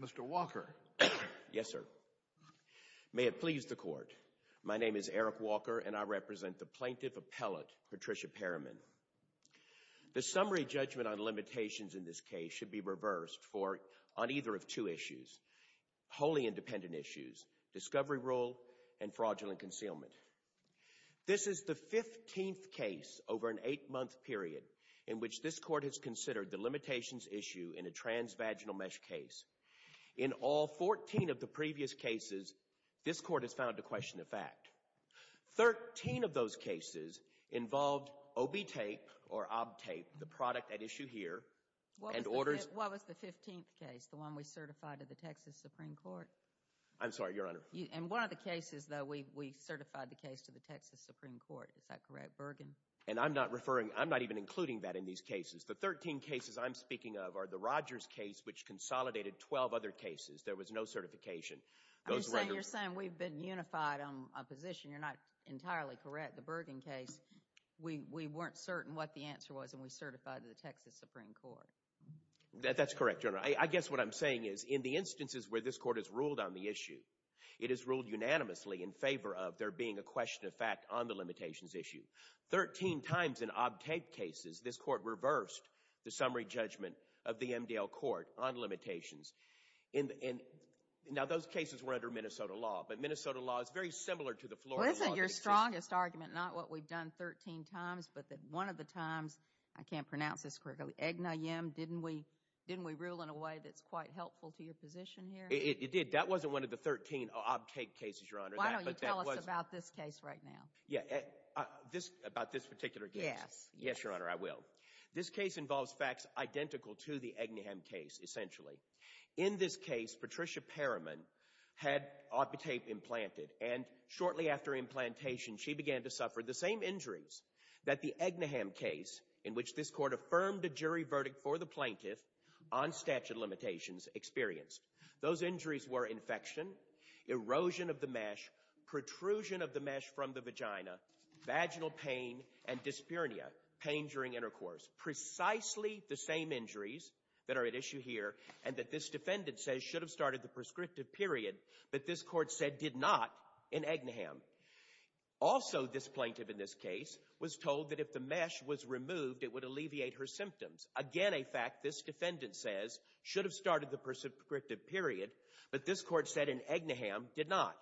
Mr. Walker. Yes, sir. May it please the court. My name is Eric Walker and I represent the plaintiff appellate Patricia Perryman. The summary judgment on limitations in this case should be reversed for on either of two issues. Wholly independent issues, discovery rule and fraudulent concealment. This is the 15th case over an eight-month period in which this court has considered the limitations issue in a transvaginal mesh case. In all 14 of the previous cases, this court has found a question of fact. 13 of those cases involved OB tape or OB tape, the product at issue here. What was the 15th case, the one we certified to the Texas Supreme Court? I'm sorry, Your Honor. In one of the cases, though, we certified the case to the Texas Supreme Court. Is that correct, Bergen? And I'm not referring – I'm not even including that in these cases. The 13 cases I'm speaking of are the Rogers case, which consolidated 12 other cases. There was no certification. You're saying we've been unified on a position. You're not entirely correct. The Bergen case, we weren't certain what the answer was and we certified to the Texas Supreme Court. That's correct, Your Honor. I guess what I'm saying is in the instances where this court has ruled on the issue, it has ruled unanimously in favor of there being a question of fact on the limitations issue. Thirteen times in OB tape cases, this court reversed the summary judgment of the MDL court on limitations. Now, those cases were under Minnesota law, but Minnesota law is very similar to the Florida law. Well, isn't your strongest argument not what we've done 13 times, but that one of the times – I can't pronounce this correctly – Agni-Yim, didn't we rule in a way that's quite helpful to your position here? It did. That wasn't one of the 13 OB tape cases, Your Honor. Why don't you tell us about this case right now? Yeah, about this particular case. Yes. Yes, Your Honor, I will. This case involves facts identical to the Agni-Yim case, essentially. In this case, Patricia Perriman had OB tape implanted, and shortly after implantation, she began to suffer the same injuries that the Agni-Yim case, in which this court affirmed a jury verdict for the plaintiff on statute of limitations, experienced. Those injuries were infection, erosion of the mesh, protrusion of the mesh from the vagina, vaginal pain, and dyspnea, pain during intercourse. Precisely the same injuries that are at issue here, and that this defendant says should have started the prescriptive period, but this court said did not in Agni-Yim. Also, this plaintiff in this case was told that if the mesh was removed, it would alleviate her symptoms. Again, a fact this defendant says should have started the prescriptive period, but this court said in Agni-Yim did not.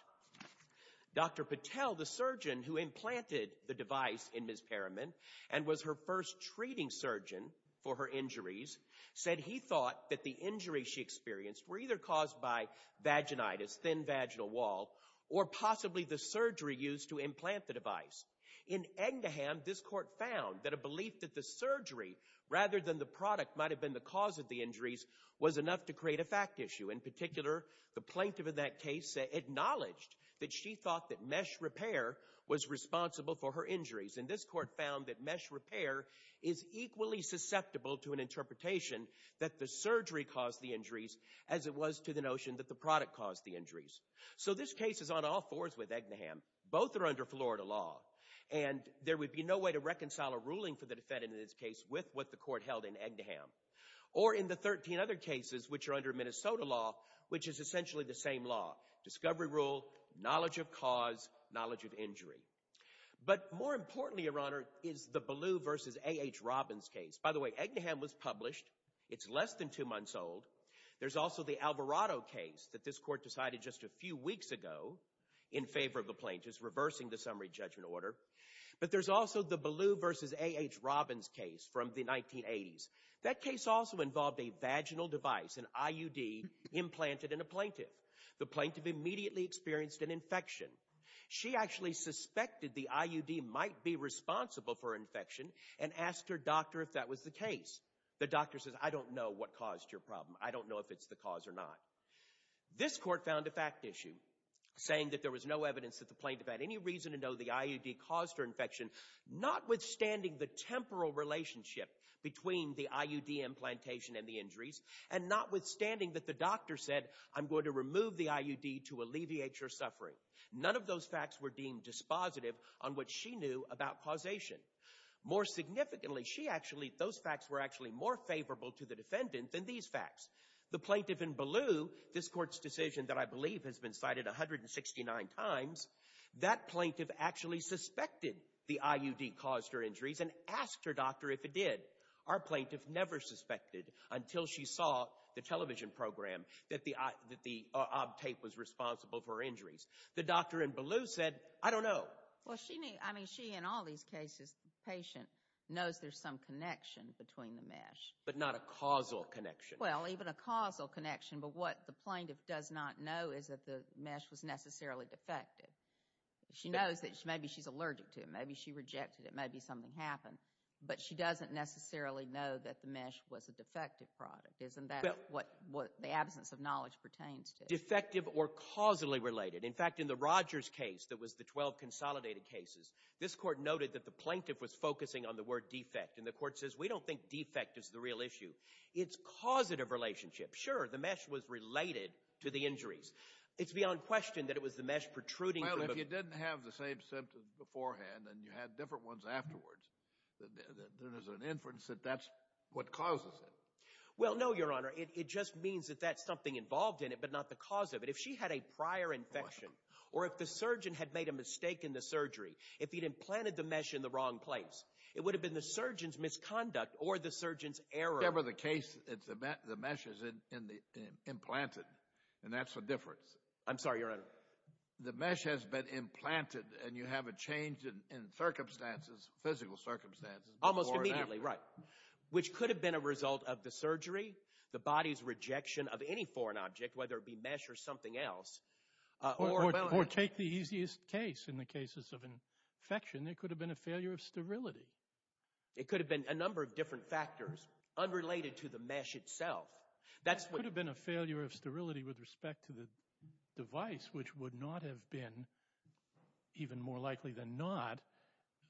Dr. Patel, the surgeon who implanted the device in Ms. Perriman, and was her first treating surgeon for her injuries, said he thought that the injuries she experienced were either caused by vaginitis, thin vaginal wall, or possibly the surgery used to implant the device. In Agni-Yim, this court found that a belief that the surgery, rather than the product, might have been the cause of the injuries was enough to create a fact issue. In particular, the plaintiff in that case acknowledged that she thought that mesh repair was responsible for her injuries, and this court found that mesh repair is equally susceptible to an interpretation that the surgery caused the injuries as it was to the notion that the product caused the injuries. So this case is on all fours with Agni-Yim. Both are under Florida law, and there would be no way to reconcile a ruling for the defendant in this case with what the court held in Agni-Yim. Or in the 13 other cases which are under Minnesota law, which is essentially the same law. Discovery rule, knowledge of cause, knowledge of injury. But more importantly, Your Honor, is the Ballou v. A.H. Robbins case. By the way, Agni-Yim was published. It's less than two months old. There's also the Alvarado case that this court decided just a few weeks ago in favor of the plaintiffs, reversing the summary judgment order. But there's also the Ballou v. A.H. Robbins case from the 1980s. That case also involved a vaginal device, an IUD, implanted in a plaintiff. The plaintiff immediately experienced an infection. She actually suspected the IUD might be responsible for infection and asked her doctor if that was the case. The doctor says, I don't know what caused your problem. I don't know if it's the cause or not. This court found a fact issue, saying that there was no evidence that the plaintiff had any reason to know the IUD caused her infection, notwithstanding the temporal relationship between the IUD implantation and the injuries, and notwithstanding that the doctor said, I'm going to remove the IUD to alleviate your suffering. None of those facts were deemed dispositive on what she knew about causation. More significantly, those facts were actually more favorable to the defendant than these facts. The plaintiff in Ballou, this court's decision that I believe has been cited 169 times, that plaintiff actually suspected the IUD caused her injuries and asked her doctor if it did. Our plaintiff never suspected until she saw the television program that the OB tape was responsible for her injuries. The doctor in Ballou said, I don't know. Well, she in all these cases, the patient knows there's some connection between the mesh. But not a causal connection. Well, even a causal connection, but what the plaintiff does not know is that the mesh was necessarily defective. She knows that maybe she's allergic to it. Maybe she rejected it. Maybe something happened. But she doesn't necessarily know that the mesh was a defective product. Isn't that what the absence of knowledge pertains to? Defective or causally related. In fact, in the Rogers case, that was the 12 consolidated cases, this court noted that the plaintiff was focusing on the word defect. And the court says, we don't think defect is the real issue. It's causative relationship. Sure, the mesh was related to the injuries. It's beyond question that it was the mesh protruding from the mesh. But if she didn't have the same symptoms beforehand and you had different ones afterwards, then there's an inference that that's what causes it. Well, no, Your Honor. It just means that that's something involved in it, but not the cause of it. If she had a prior infection or if the surgeon had made a mistake in the surgery, if he'd implanted the mesh in the wrong place, it would have been the surgeon's misconduct or the surgeon's error. Whatever the case, the mesh is implanted. And that's the difference. I'm sorry, Your Honor. The mesh has been implanted and you have a change in circumstances, physical circumstances. Almost immediately, right, which could have been a result of the surgery, the body's rejection of any foreign object, whether it be mesh or something else. Or take the easiest case in the cases of infection. It could have been a failure of sterility. It could have been a number of different factors unrelated to the mesh itself. It could have been a failure of sterility with respect to the device, which would not have been, even more likely than not,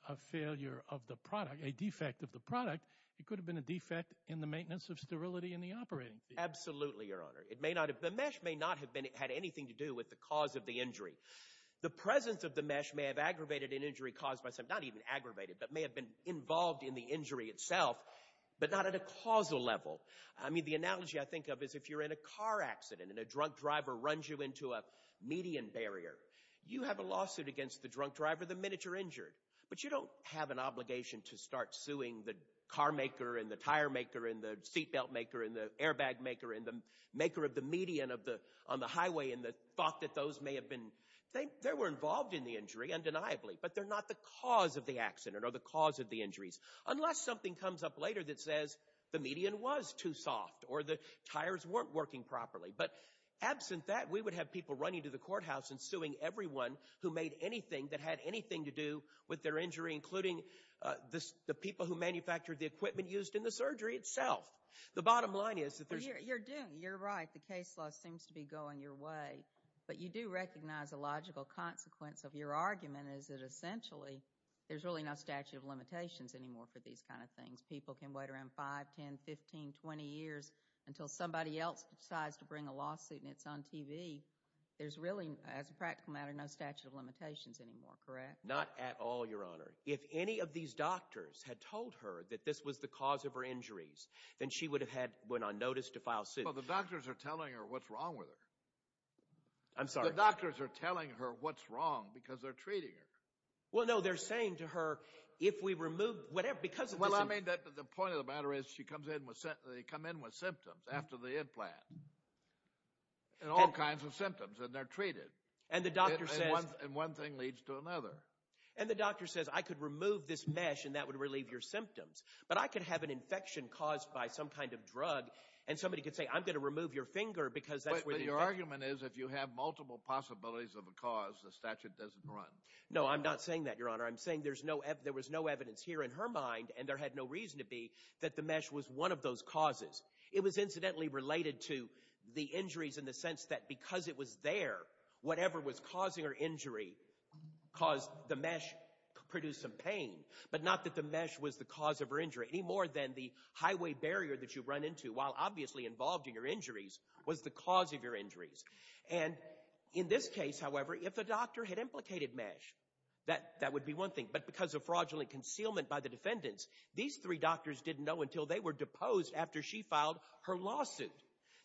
a failure of the product, a defect of the product. It could have been a defect in the maintenance of sterility in the operating field. Absolutely, Your Honor. The mesh may not have had anything to do with the cause of the injury. The presence of the mesh may have aggravated an injury caused by something, not even aggravated, but may have been involved in the injury itself, but not at a causal level. I mean, the analogy I think of is if you're in a car accident and a drunk driver runs you into a median barrier, you have a lawsuit against the drunk driver the minute you're injured. But you don't have an obligation to start suing the carmaker and the tire maker and the seatbelt maker and the airbag maker and the maker of the median on the highway and the thought that those may have been involved in the injury, undeniably. But they're not the cause of the accident or the cause of the injuries, unless something comes up later that says the median was too soft or the tires weren't working properly. But absent that, we would have people running to the courthouse and suing everyone who made anything that had anything to do with their injury, including the people who manufactured the equipment used in the surgery itself. The bottom line is that there's... You're doing it. You're right. The case law seems to be going your way. But you do recognize a logical consequence of your argument is that essentially there's really no statute of limitations anymore for these kind of things. People can wait around 5, 10, 15, 20 years until somebody else decides to bring a lawsuit and it's on TV. There's really, as a practical matter, no statute of limitations anymore, correct? Not at all, Your Honor. If any of these doctors had told her that this was the cause of her injuries, then she would have had went on notice to file suit. I'm sorry? The doctors are telling her what's wrong because they're treating her. Well, no, they're saying to her, if we remove whatever, because of this... Well, I mean, the point of the matter is she comes in with symptoms after the implant. And all kinds of symptoms, and they're treated. And the doctor says... And one thing leads to another. And the doctor says, I could remove this mesh and that would relieve your symptoms. But I could have an infection caused by some kind of drug and somebody could say, I'm going to remove your finger because that's where the infection... The argument is, if you have multiple possibilities of a cause, the statute doesn't run. No, I'm not saying that, Your Honor. I'm saying there was no evidence here in her mind, and there had no reason to be, that the mesh was one of those causes. It was incidentally related to the injuries in the sense that because it was there, whatever was causing her injury caused the mesh to produce some pain. But not that the mesh was the cause of her injury. Any more than the highway barrier that you run into, while obviously involved in your injuries, was the cause of your injuries. And in this case, however, if the doctor had implicated mesh, that would be one thing. But because of fraudulent concealment by the defendants, these three doctors didn't know until they were deposed after she filed her lawsuit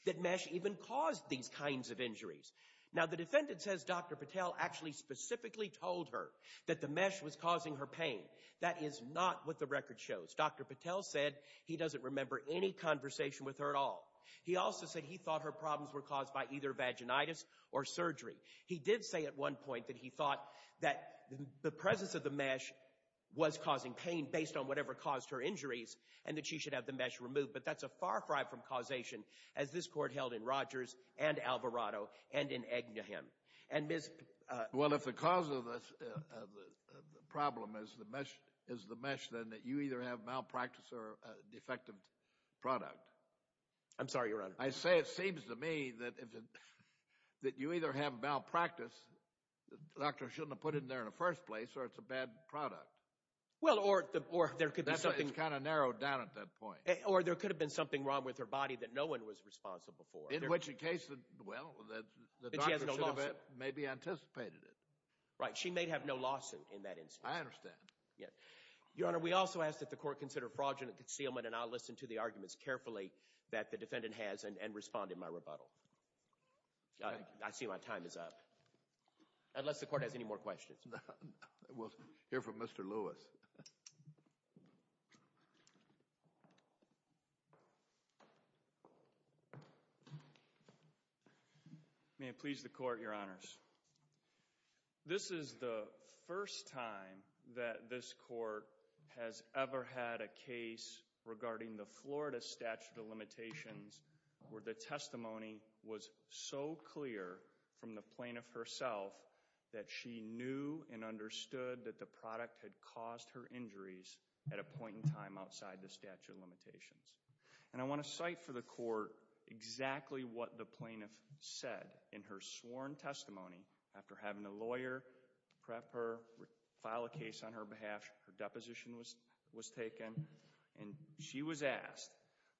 that mesh even caused these kinds of injuries. Now, the defendant says Dr. Patel actually specifically told her that the mesh was causing her pain. That is not what the record shows. Dr. Patel said he doesn't remember any conversation with her at all. He also said he thought her problems were caused by either vaginitis or surgery. He did say at one point that he thought that the presence of the mesh was causing pain based on whatever caused her injuries and that she should have the mesh removed. But that's a far cry from causation, as this Court held in Rogers and Alvarado and in Egnehem. And Ms. Well, if the cause of the problem is the mesh, then you either have malpractice or a defective product. I'm sorry, Your Honor. I say it seems to me that you either have malpractice, the doctor shouldn't have put it in there in the first place, or it's a bad product. Well, or there could be something— It's kind of narrowed down at that point. Or there could have been something wrong with her body that no one was responsible for. In which case, well, the doctor should have maybe anticipated it. Right. She may have no lawsuit in that instance. I understand. Your Honor, we also ask that the Court consider fraudulent concealment, and I'll listen to the arguments carefully that the defendant has and respond in my rebuttal. I see my time is up. Unless the Court has any more questions. We'll hear from Mr. Lewis. May it please the Court, Your Honors. This is the first time that this Court has ever had a case regarding the Florida statute of limitations where the testimony was so clear from the plaintiff herself that she knew and understood that the product had caused her injuries at a point in time outside the statute of limitations. And I want to cite for the Court exactly what the plaintiff said in her sworn testimony after having a lawyer prep her, file a case on her behalf, her deposition was taken. And she was asked,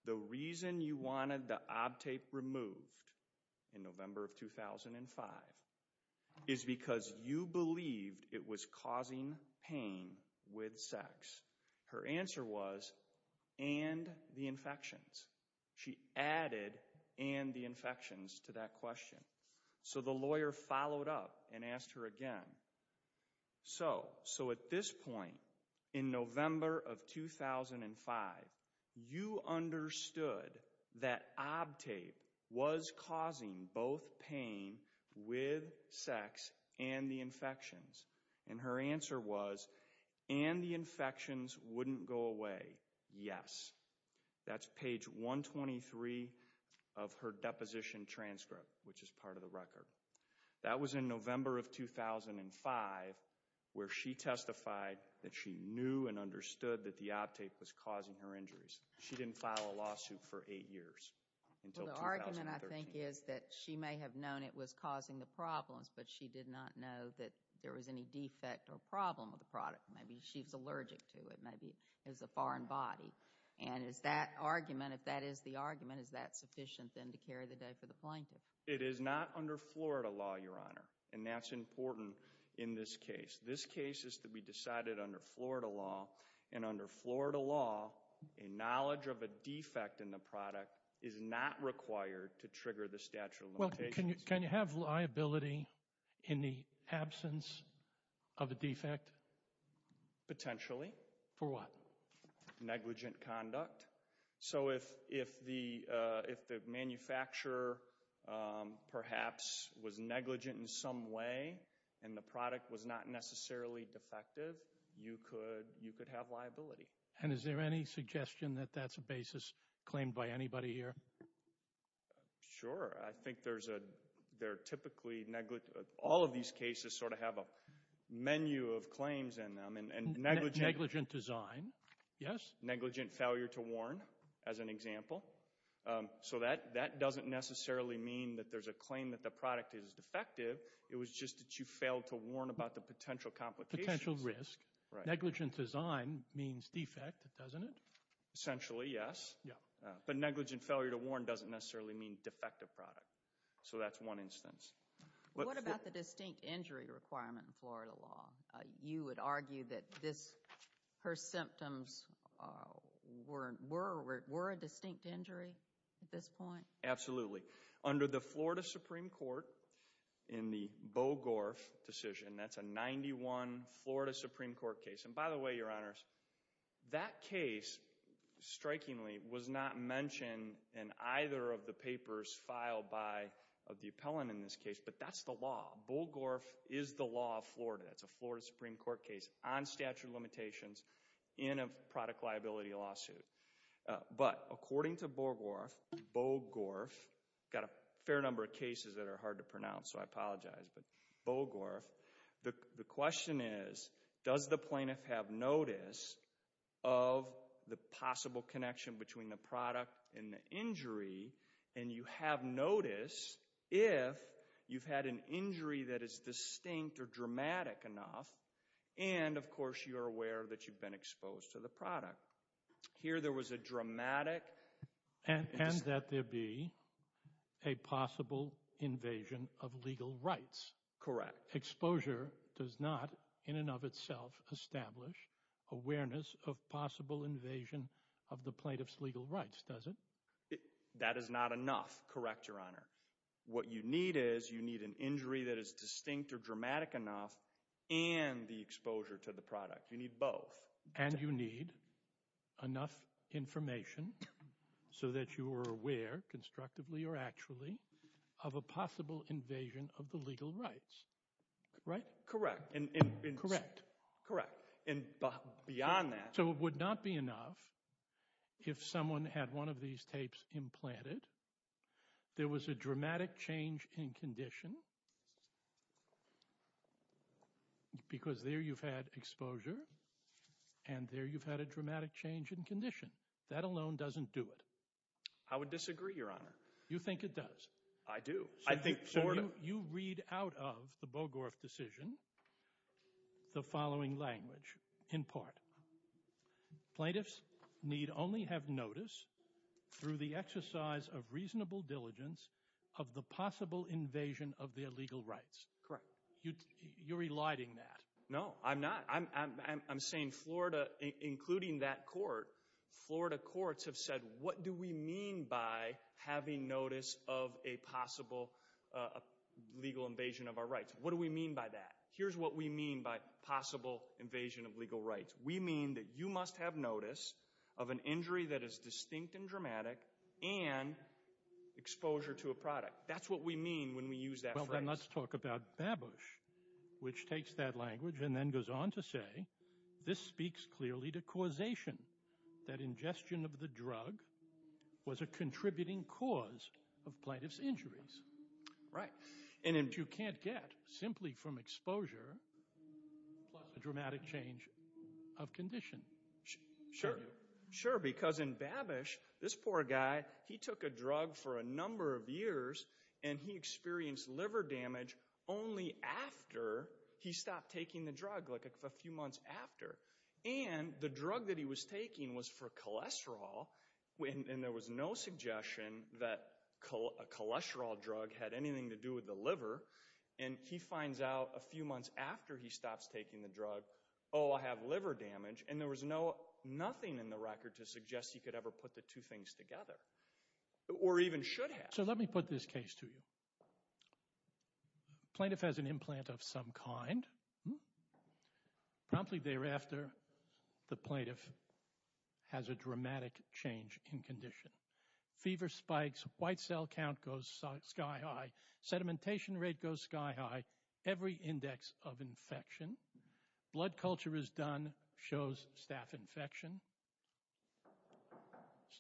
the reason you wanted the obtape removed in November of 2005 is because you believed it was causing pain with sex. Her answer was, and the infections. She added and the infections to that question. So the lawyer followed up and asked her again. So at this point in November of 2005, you understood that obtape was causing both pain with sex and the infections. And her answer was, and the infections wouldn't go away, yes. That's page 123 of her deposition transcript, which is part of the record. That was in November of 2005, where she testified that she knew and understood that the obtape was causing her injuries. She didn't file a lawsuit for eight years until 2013. The argument, I think, is that she may have known it was causing the problems, but she did not know that there was any defect or problem with the product. Maybe she was allergic to it, maybe it was a foreign body. And is that argument, if that is the argument, is that sufficient then to carry the debt for the plaintiff? It is not under Florida law, Your Honor. And that's important in this case. This case is to be decided under Florida law. And under Florida law, a knowledge of a defect in the product is not required to trigger the statute of limitations. Well, can you have liability in the absence of a defect? Potentially. For what? Negligent conduct. So if the manufacturer, perhaps, was negligent in some way and the product was not necessarily defective, you could have liability. And is there any suggestion that that's a basis claimed by anybody here? Sure. I think there are typically negligent. All of these cases sort of have a menu of claims in them. Negligent design. Yes. Negligent failure to warn, as an example. So that doesn't necessarily mean that there's a claim that the product is defective. It was just that you failed to warn about the potential complications. Potential risk. Negligent design means defect, doesn't it? Essentially, yes. But negligent failure to warn doesn't necessarily mean defective product. So that's one instance. What about the distinct injury requirement in Florida law? You would argue that her symptoms were a distinct injury at this point? Absolutely. Under the Florida Supreme Court, in the Bogorff decision, that's a 91 Florida Supreme Court case. And by the way, Your Honors, that case, strikingly, was not mentioned in either of the papers filed by the appellant in this case. But that's the law. Bogorff is the law of Florida. That's a Florida Supreme Court case on statute of limitations in a product liability lawsuit. But according to Bogorff, I've got a fair number of cases that are hard to pronounce, so I apologize, but Bogorff, the question is, does the plaintiff have notice of the possible connection between the product and the injury? And you have notice if you've had an injury that is distinct or dramatic enough, and, of course, you're aware that you've been exposed to the product. Here there was a dramatic... And that there be a possible invasion of legal rights. Correct. Exposure does not, in and of itself, establish awareness of possible invasion of the plaintiff's legal rights, does it? That is not enough, correct, Your Honor. What you need is you need an injury that is distinct or dramatic enough and the exposure to the product. You need both. And you need enough information so that you are aware, constructively or actually, of a possible invasion of the legal rights, right? Correct. Correct. Correct. And beyond that... If someone had one of these tapes implanted, there was a dramatic change in condition because there you've had exposure and there you've had a dramatic change in condition. That alone doesn't do it. I would disagree, Your Honor. You think it does? I do. I think sort of. Plaintiffs need only have notice through the exercise of reasonable diligence of the possible invasion of their legal rights. Correct. You're eliding that. No, I'm not. I'm saying Florida, including that court, Florida courts have said, what do we mean by having notice of a possible legal invasion of our rights? What do we mean by that? Here's what we mean by possible invasion of legal rights. We mean that you must have notice of an injury that is distinct and dramatic and exposure to a product. That's what we mean when we use that phrase. Well, then let's talk about Babush, which takes that language and then goes on to say, this speaks clearly to causation. That ingestion of the drug was a contributing cause of plaintiff's injuries. Right. You can't get simply from exposure plus a dramatic change of condition. Sure, because in Babush, this poor guy, he took a drug for a number of years and he experienced liver damage only after he stopped taking the drug, like a few months after. And the drug that he was taking was for cholesterol, and there was no suggestion that a cholesterol drug had anything to do with the liver. And he finds out a few months after he stops taking the drug, oh, I have liver damage. And there was nothing in the record to suggest he could ever put the two things together or even should have. So let me put this case to you. Plaintiff has an implant of some kind. Promptly thereafter, the plaintiff has a dramatic change in condition. Fever spikes. White cell count goes sky high. Sedimentation rate goes sky high. Every index of infection. Blood culture is done. Shows staph infection. As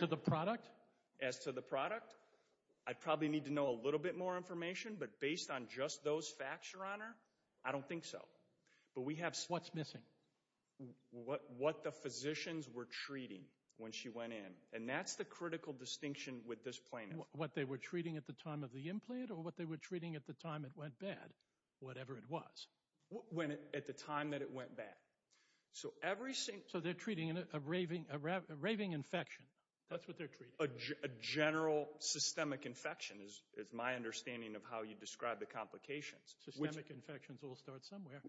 to the product? As to the product? I'd probably need to know a little bit more information, but based on just those facts, Your Honor, I don't think so. What's missing? What the physicians were treating when she went in. And that's the critical distinction with this plaintiff. What they were treating at the time of the implant or what they were treating at the time it went bad, whatever it was? At the time that it went bad. So they're treating a raving infection. That's what they're treating. A general systemic infection is my understanding of how you describe the complications. Systemic infections all start somewhere.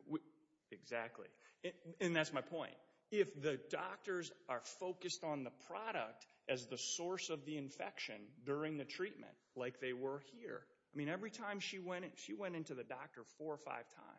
Exactly. And that's my point. If the doctors are focused on the product as the source of the infection during the treatment, like they were here. I mean, every time she went in, she went in to the doctor four or five times.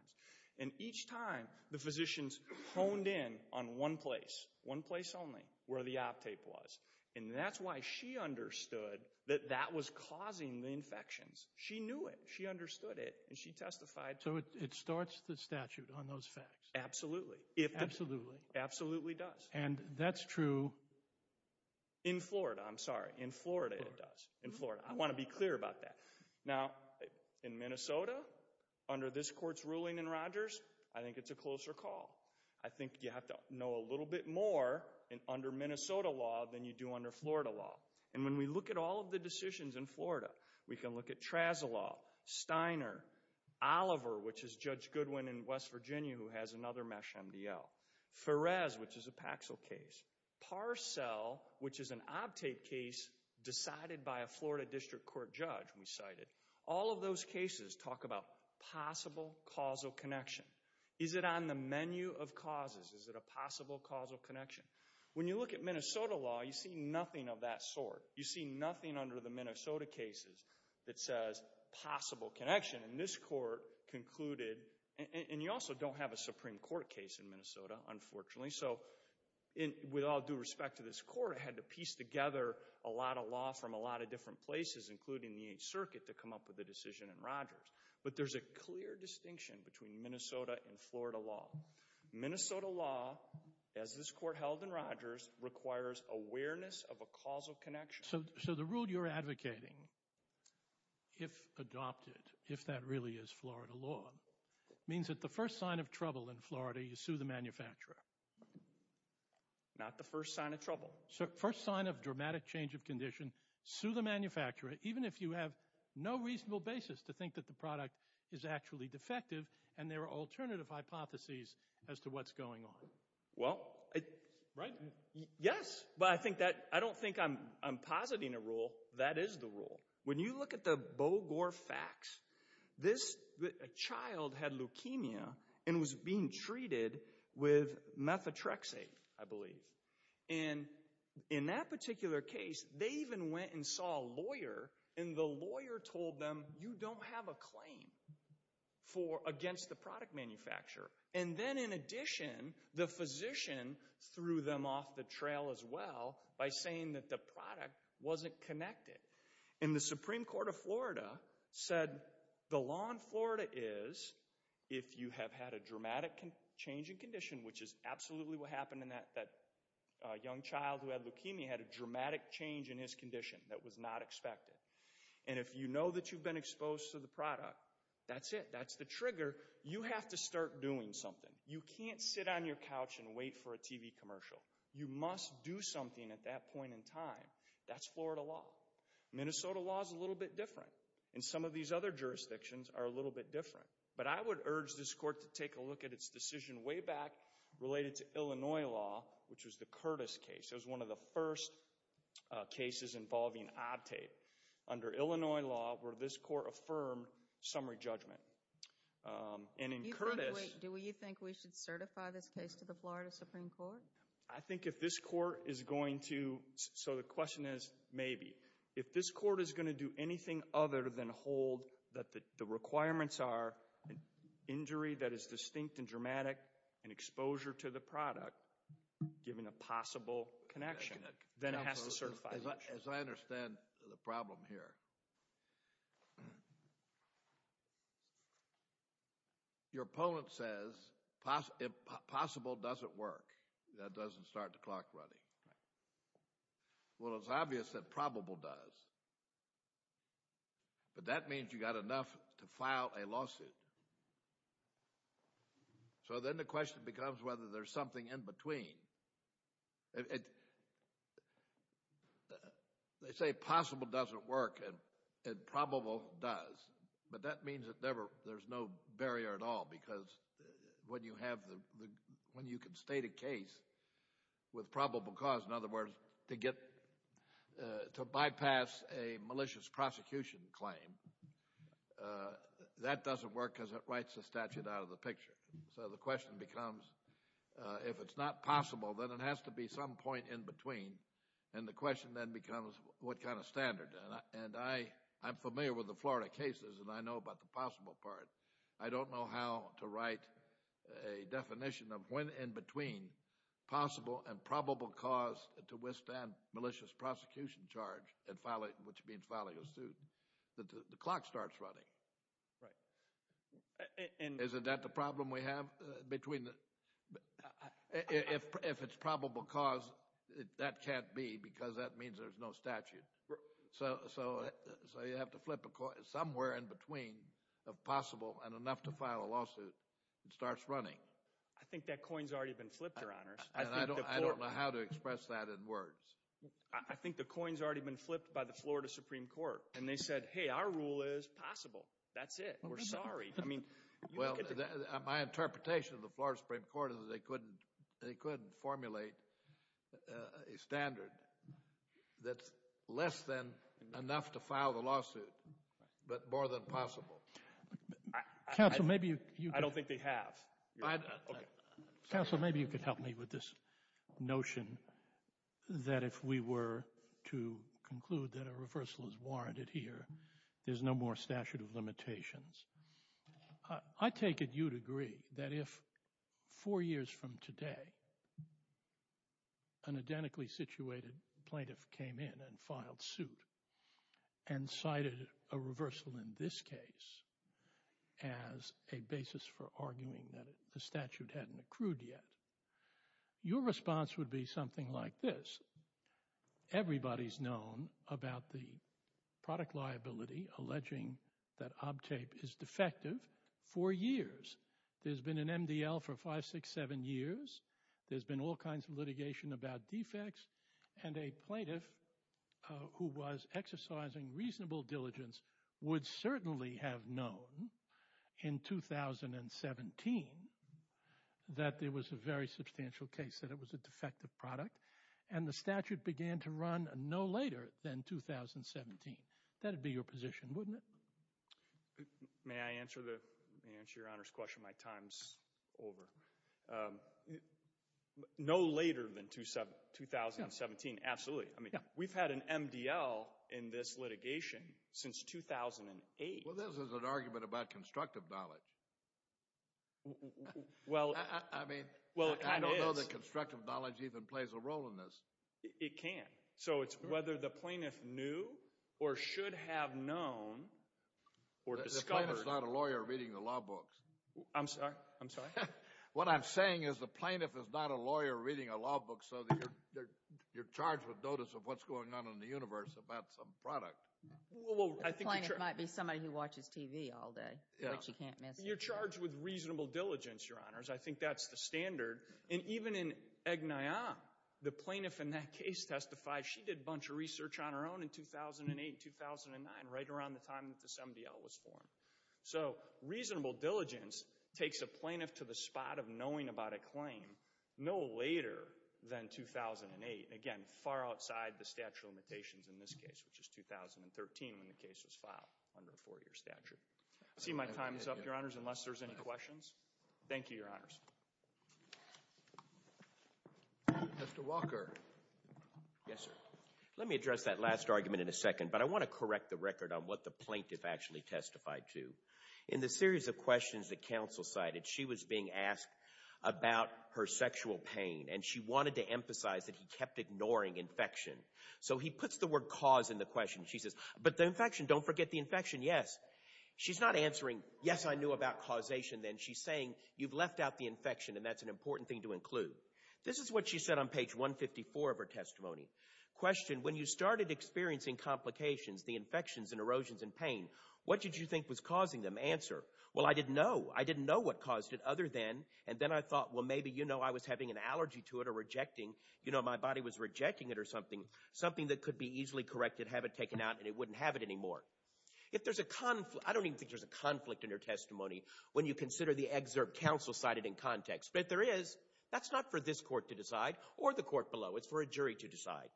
And each time, the physicians honed in on one place, one place only, where the Optape was. And that's why she understood that that was causing the infections. She knew it. She understood it. And she testified. So it starts the statute on those facts. Absolutely. Absolutely. Absolutely does. And that's true. In Florida. I'm sorry. In Florida it does. In Florida. I want to be clear about that. Now, in Minnesota, under this court's ruling in Rogers, I think it's a closer call. I think you have to know a little bit more under Minnesota law than you do under Florida law. And when we look at all of the decisions in Florida, we can look at Trazolaw, Steiner, Oliver, which is Judge Goodwin in West Virginia who has another MeSH MDL, Perez, which is a Paxil case, Parcell, which is an Optape case decided by a Florida district court judge, we cited. All of those cases talk about possible causal connection. Is it on the menu of causes? Is it a possible causal connection? When you look at Minnesota law, you see nothing of that sort. You see nothing under the Minnesota cases that says possible connection. And this court concluded, and you also don't have a Supreme Court case in Minnesota, unfortunately. So with all due respect to this court, it had to piece together a lot of law from a lot of different places, including the 8th Circuit, to come up with a decision in Rogers. But there's a clear distinction between Minnesota and Florida law. Minnesota law, as this court held in Rogers, requires awareness of a causal connection. So the rule you're advocating, if adopted, if that really is Florida law, means that the first sign of trouble in Florida, you sue the manufacturer. Not the first sign of trouble. First sign of dramatic change of condition, sue the manufacturer, even if you have no reasonable basis to think that the product is actually defective and there are alternative hypotheses as to what's going on. Well, yes, but I don't think I'm positing a rule. That is the rule. When you look at the Bogor facts, this child had leukemia and was being treated with methotrexate, I believe. And in that particular case, they even went and saw a lawyer, and the lawyer told them, you don't have a claim against the product manufacturer. And then in addition, the physician threw them off the trail as well by saying that the product wasn't connected. And the Supreme Court of Florida said, the law in Florida is, if you have had a dramatic change in condition, which is absolutely what happened in that young child who had leukemia, had a dramatic change in his condition that was not expected. And if you know that you've been exposed to the product, that's it. That's the trigger. You have to start doing something. You can't sit on your couch and wait for a TV commercial. You must do something at that point in time. That's Florida law. Minnesota law is a little bit different. And some of these other jurisdictions are a little bit different. But I would urge this court to take a look at its decision way back related to Illinois law, which was the Curtis case. It was one of the first cases involving odd tape. Under Illinois law, where this court affirmed summary judgment. And in Curtis – Do you think we should certify this case to the Florida Supreme Court? I think if this court is going to – so the question is maybe. If this court is going to do anything other than hold that the requirements are injury that is distinct and dramatic and exposure to the product, given a possible connection, then it has to certify the issue. As I understand the problem here, your opponent says possible doesn't work. That doesn't start the clock running. Well, it's obvious that probable does. But that means you've got enough to file a lawsuit. So then the question becomes whether there's something in between. They say possible doesn't work, and probable does. But that means there's no barrier at all, because when you can state a case with probable cause, in other words, to bypass a malicious prosecution claim, that doesn't work because it writes the statute out of the picture. So the question becomes if it's not possible, then it has to be some point in between. And the question then becomes what kind of standard. And I'm familiar with the Florida cases, and I know about the possible part. I don't know how to write a definition of when in between possible and probable cause to withstand malicious prosecution charge, which means filing a suit. The clock starts running. Right. Isn't that the problem we have? If it's probable cause, that can't be, because that means there's no statute. So you have to flip somewhere in between of possible and enough to file a lawsuit. It starts running. I think that coin's already been flipped, Your Honors. I don't know how to express that in words. I think the coin's already been flipped by the Florida Supreme Court, and they said, hey, our rule is possible. That's it. We're sorry. Well, my interpretation of the Florida Supreme Court they could formulate a standard that's less than enough to file the lawsuit, but more than possible. I don't think they have. Counsel, maybe you could help me with this notion that if we were to conclude that a reversal is warranted here, there's no more statute of limitations. I take it you'd agree that if four years from today an identically situated plaintiff came in and filed suit and cited a reversal in this case as a basis for arguing that the statute hadn't accrued yet, your response would be something like this. Everybody's known about the product liability alleging that ObTape is defective for years. There's been an MDL for five, six, seven years. There's been all kinds of litigation about defects, and a plaintiff who was exercising reasonable diligence would certainly have known in 2017 that there was a very substantial case that it was a defective product, and the statute began to run no later than 2017. That would be your position, wouldn't it? May I answer Your Honor's question? My time's over. No later than 2017, absolutely. We've had an MDL in this litigation since 2008. Well, this is an argument about constructive knowledge. I don't know that constructive knowledge even plays a role in this. It can. So it's whether the plaintiff knew or should have known or discovered. The plaintiff's not a lawyer reading the law books. I'm sorry? I'm sorry? What I'm saying is the plaintiff is not a lawyer reading a law book so that you're charged with notice of what's going on in the universe about some product. The plaintiff might be somebody who watches TV all day, which you can't miss. You're charged with reasonable diligence, Your Honors. I think that's the standard. And even in Agnion, the plaintiff in that case testified. She did a bunch of research on her own in 2008 and 2009, right around the time that this MDL was formed. So reasonable diligence takes a plaintiff to the spot of knowing about a claim no later than 2008. Again, far outside the statute of limitations in this case, which is 2013 when the case was filed under a four-year statute. I see my time's up, Your Honors, unless there's any questions. Thank you, Your Honors. Mr. Walker. Yes, sir. Let me address that last argument in a second, but I want to correct the record on what the plaintiff actually testified to. In the series of questions that counsel cited, she was being asked about her sexual pain, and she wanted to emphasize that he kept ignoring infection. So he puts the word cause in the question. She says, but the infection, don't forget the infection. She's not answering, yes, I knew about causation then. She's saying, you've left out the infection, and that's an important thing to include. This is what she said on page 154 of her testimony. Question, when you started experiencing complications, the infections and erosions and pain, what did you think was causing them? Answer, well, I didn't know. I didn't know what caused it other than, and then I thought, well, maybe, you know, I was having an allergy to it or rejecting, you know, my body was rejecting it or something, something that could be easily corrected, have it taken out, and it wouldn't have it anymore. If there's a conflict, I don't even think there's a conflict in her testimony when you consider the excerpt counsel cited in context, but if there is, that's not for this court to decide or the court below. It's for a jury to decide.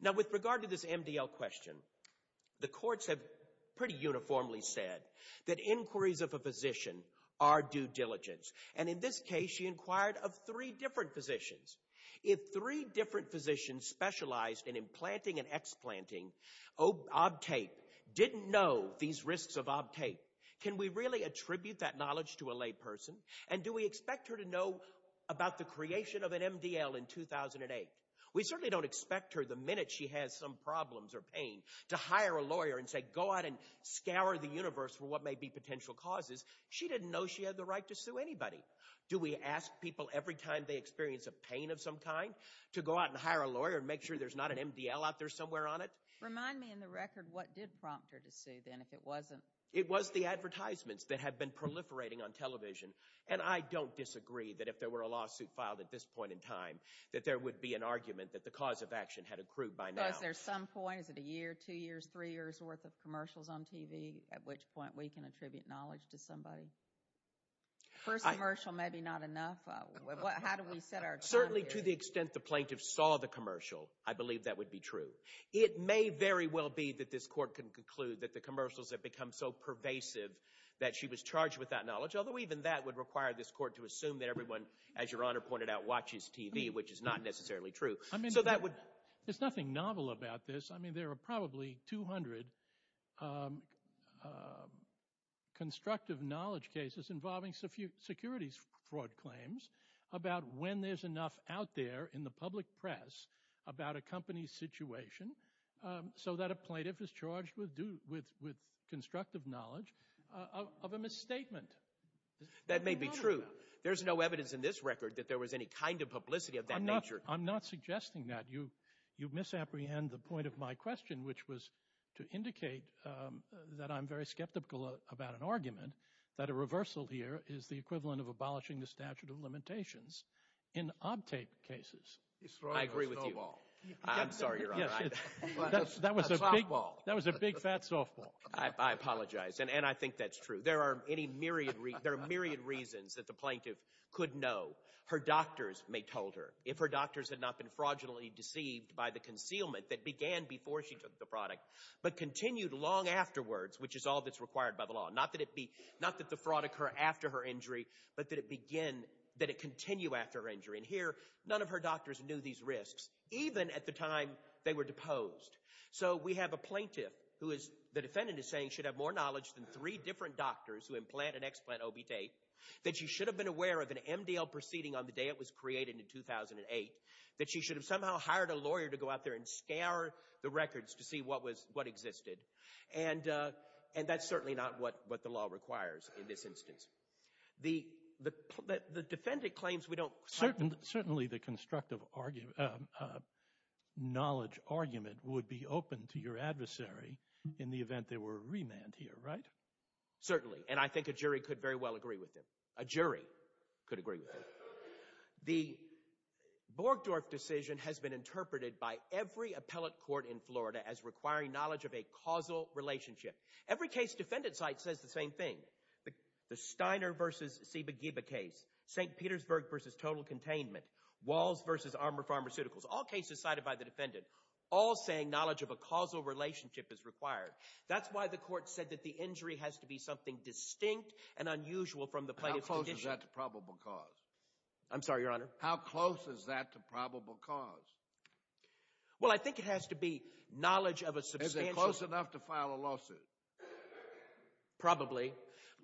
Now, with regard to this MDL question, the courts have pretty uniformly said that inquiries of a physician are due diligence, and in this case, she inquired of three different physicians. If three different physicians specialized in implanting and explanting, ob tape, didn't know these risks of ob tape, can we really attribute that knowledge to a lay person, and do we expect her to know about the creation of an MDL in 2008? We certainly don't expect her the minute she has some problems or pain to hire a lawyer and say go out and scour the universe for what may be potential causes. She didn't know she had the right to sue anybody. Do we ask people every time they experience a pain of some kind to go out and hire a lawyer and make sure there's not an MDL out there somewhere on it? Remind me in the record what did prompt her to sue then if it wasn't? It was the advertisements that had been proliferating on television, and I don't disagree that if there were a lawsuit filed at this point in time that there would be an argument that the cause of action had accrued by now. So is there some point, is it a year, two years, three years worth of commercials on TV at which point we can attribute knowledge to somebody? First commercial, maybe not enough. How do we set our time here? Certainly to the extent the plaintiff saw the commercial, I believe that would be true. It may very well be that this court can conclude that the commercials have become so pervasive that she was charged with that knowledge, although even that would require this court to assume that everyone, as Your Honor pointed out, watches TV, which is not necessarily true. There's nothing novel about this. There are probably 200 constructive knowledge cases involving securities fraud claims about when there's enough out there in the public press about a company's situation so that a plaintiff is charged with constructive knowledge of a misstatement. That may be true. There's no evidence in this record that there was any kind of publicity of that nature. I'm not suggesting that. You misapprehend the point of my question, which was to indicate that I'm very skeptical about an argument that a reversal here is the equivalent of abolishing the statute of limitations in OBTAPE cases. He's throwing a snowball. I'm sorry, Your Honor. A softball. That was a big, fat softball. I apologize, and I think that's true. There are myriad reasons that the plaintiff could know. Her doctors may told her. If her doctors had not been fraudulently deceived by the concealment that began before she took the product but continued long afterwards, which is all that's required by the law, not that the fraud occur after her injury, but that it continue after her injury. And here, none of her doctors knew these risks, even at the time they were deposed. So we have a plaintiff who, the defendant is saying, should have more knowledge than three different doctors who implant and explant OBTAPE, that she should have been aware of an MDL proceeding on the day it was created in 2008, that she should have somehow hired a lawyer to go out there and scour the records to see what existed. And that's certainly not what the law requires in this instance. The defendant claims we don't— Certainly the constructive knowledge argument would be open to your adversary in the event they were remanded here, right? Certainly, and I think a jury could very well agree with him. A jury could agree with him. The Borgdorf decision has been interpreted by every appellate court in Florida as requiring knowledge of a causal relationship. Every case defendant cites says the same thing. The Steiner v. Sibagiba case, St. Petersburg v. Total Containment, Walls v. Armour Pharmaceuticals, all cases cited by the defendant, all saying knowledge of a causal relationship is required. That's why the court said that the injury has to be something distinct and unusual from the plaintiff's condition. How close is that to probable cause? I'm sorry, Your Honor? How close is that to probable cause? Well, I think it has to be knowledge of a substantial— Is it close enough to file a lawsuit? Probably,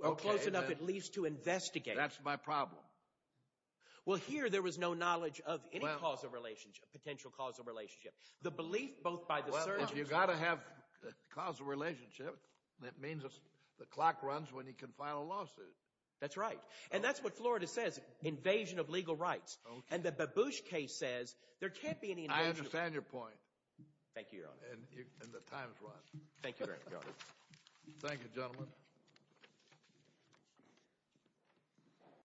or close enough at least to investigate. That's my problem. Well, here there was no knowledge of any causal relationship, potential causal relationship. The belief both by the— Well, if you've got to have a causal relationship, that means the clock runs when you can file a lawsuit. That's right. And that's what Florida says, invasion of legal rights. And the Babush case says there can't be any— I understand your point. Thank you, Your Honor. And the time's run. Thank you, Your Honor. Thank you, gentlemen.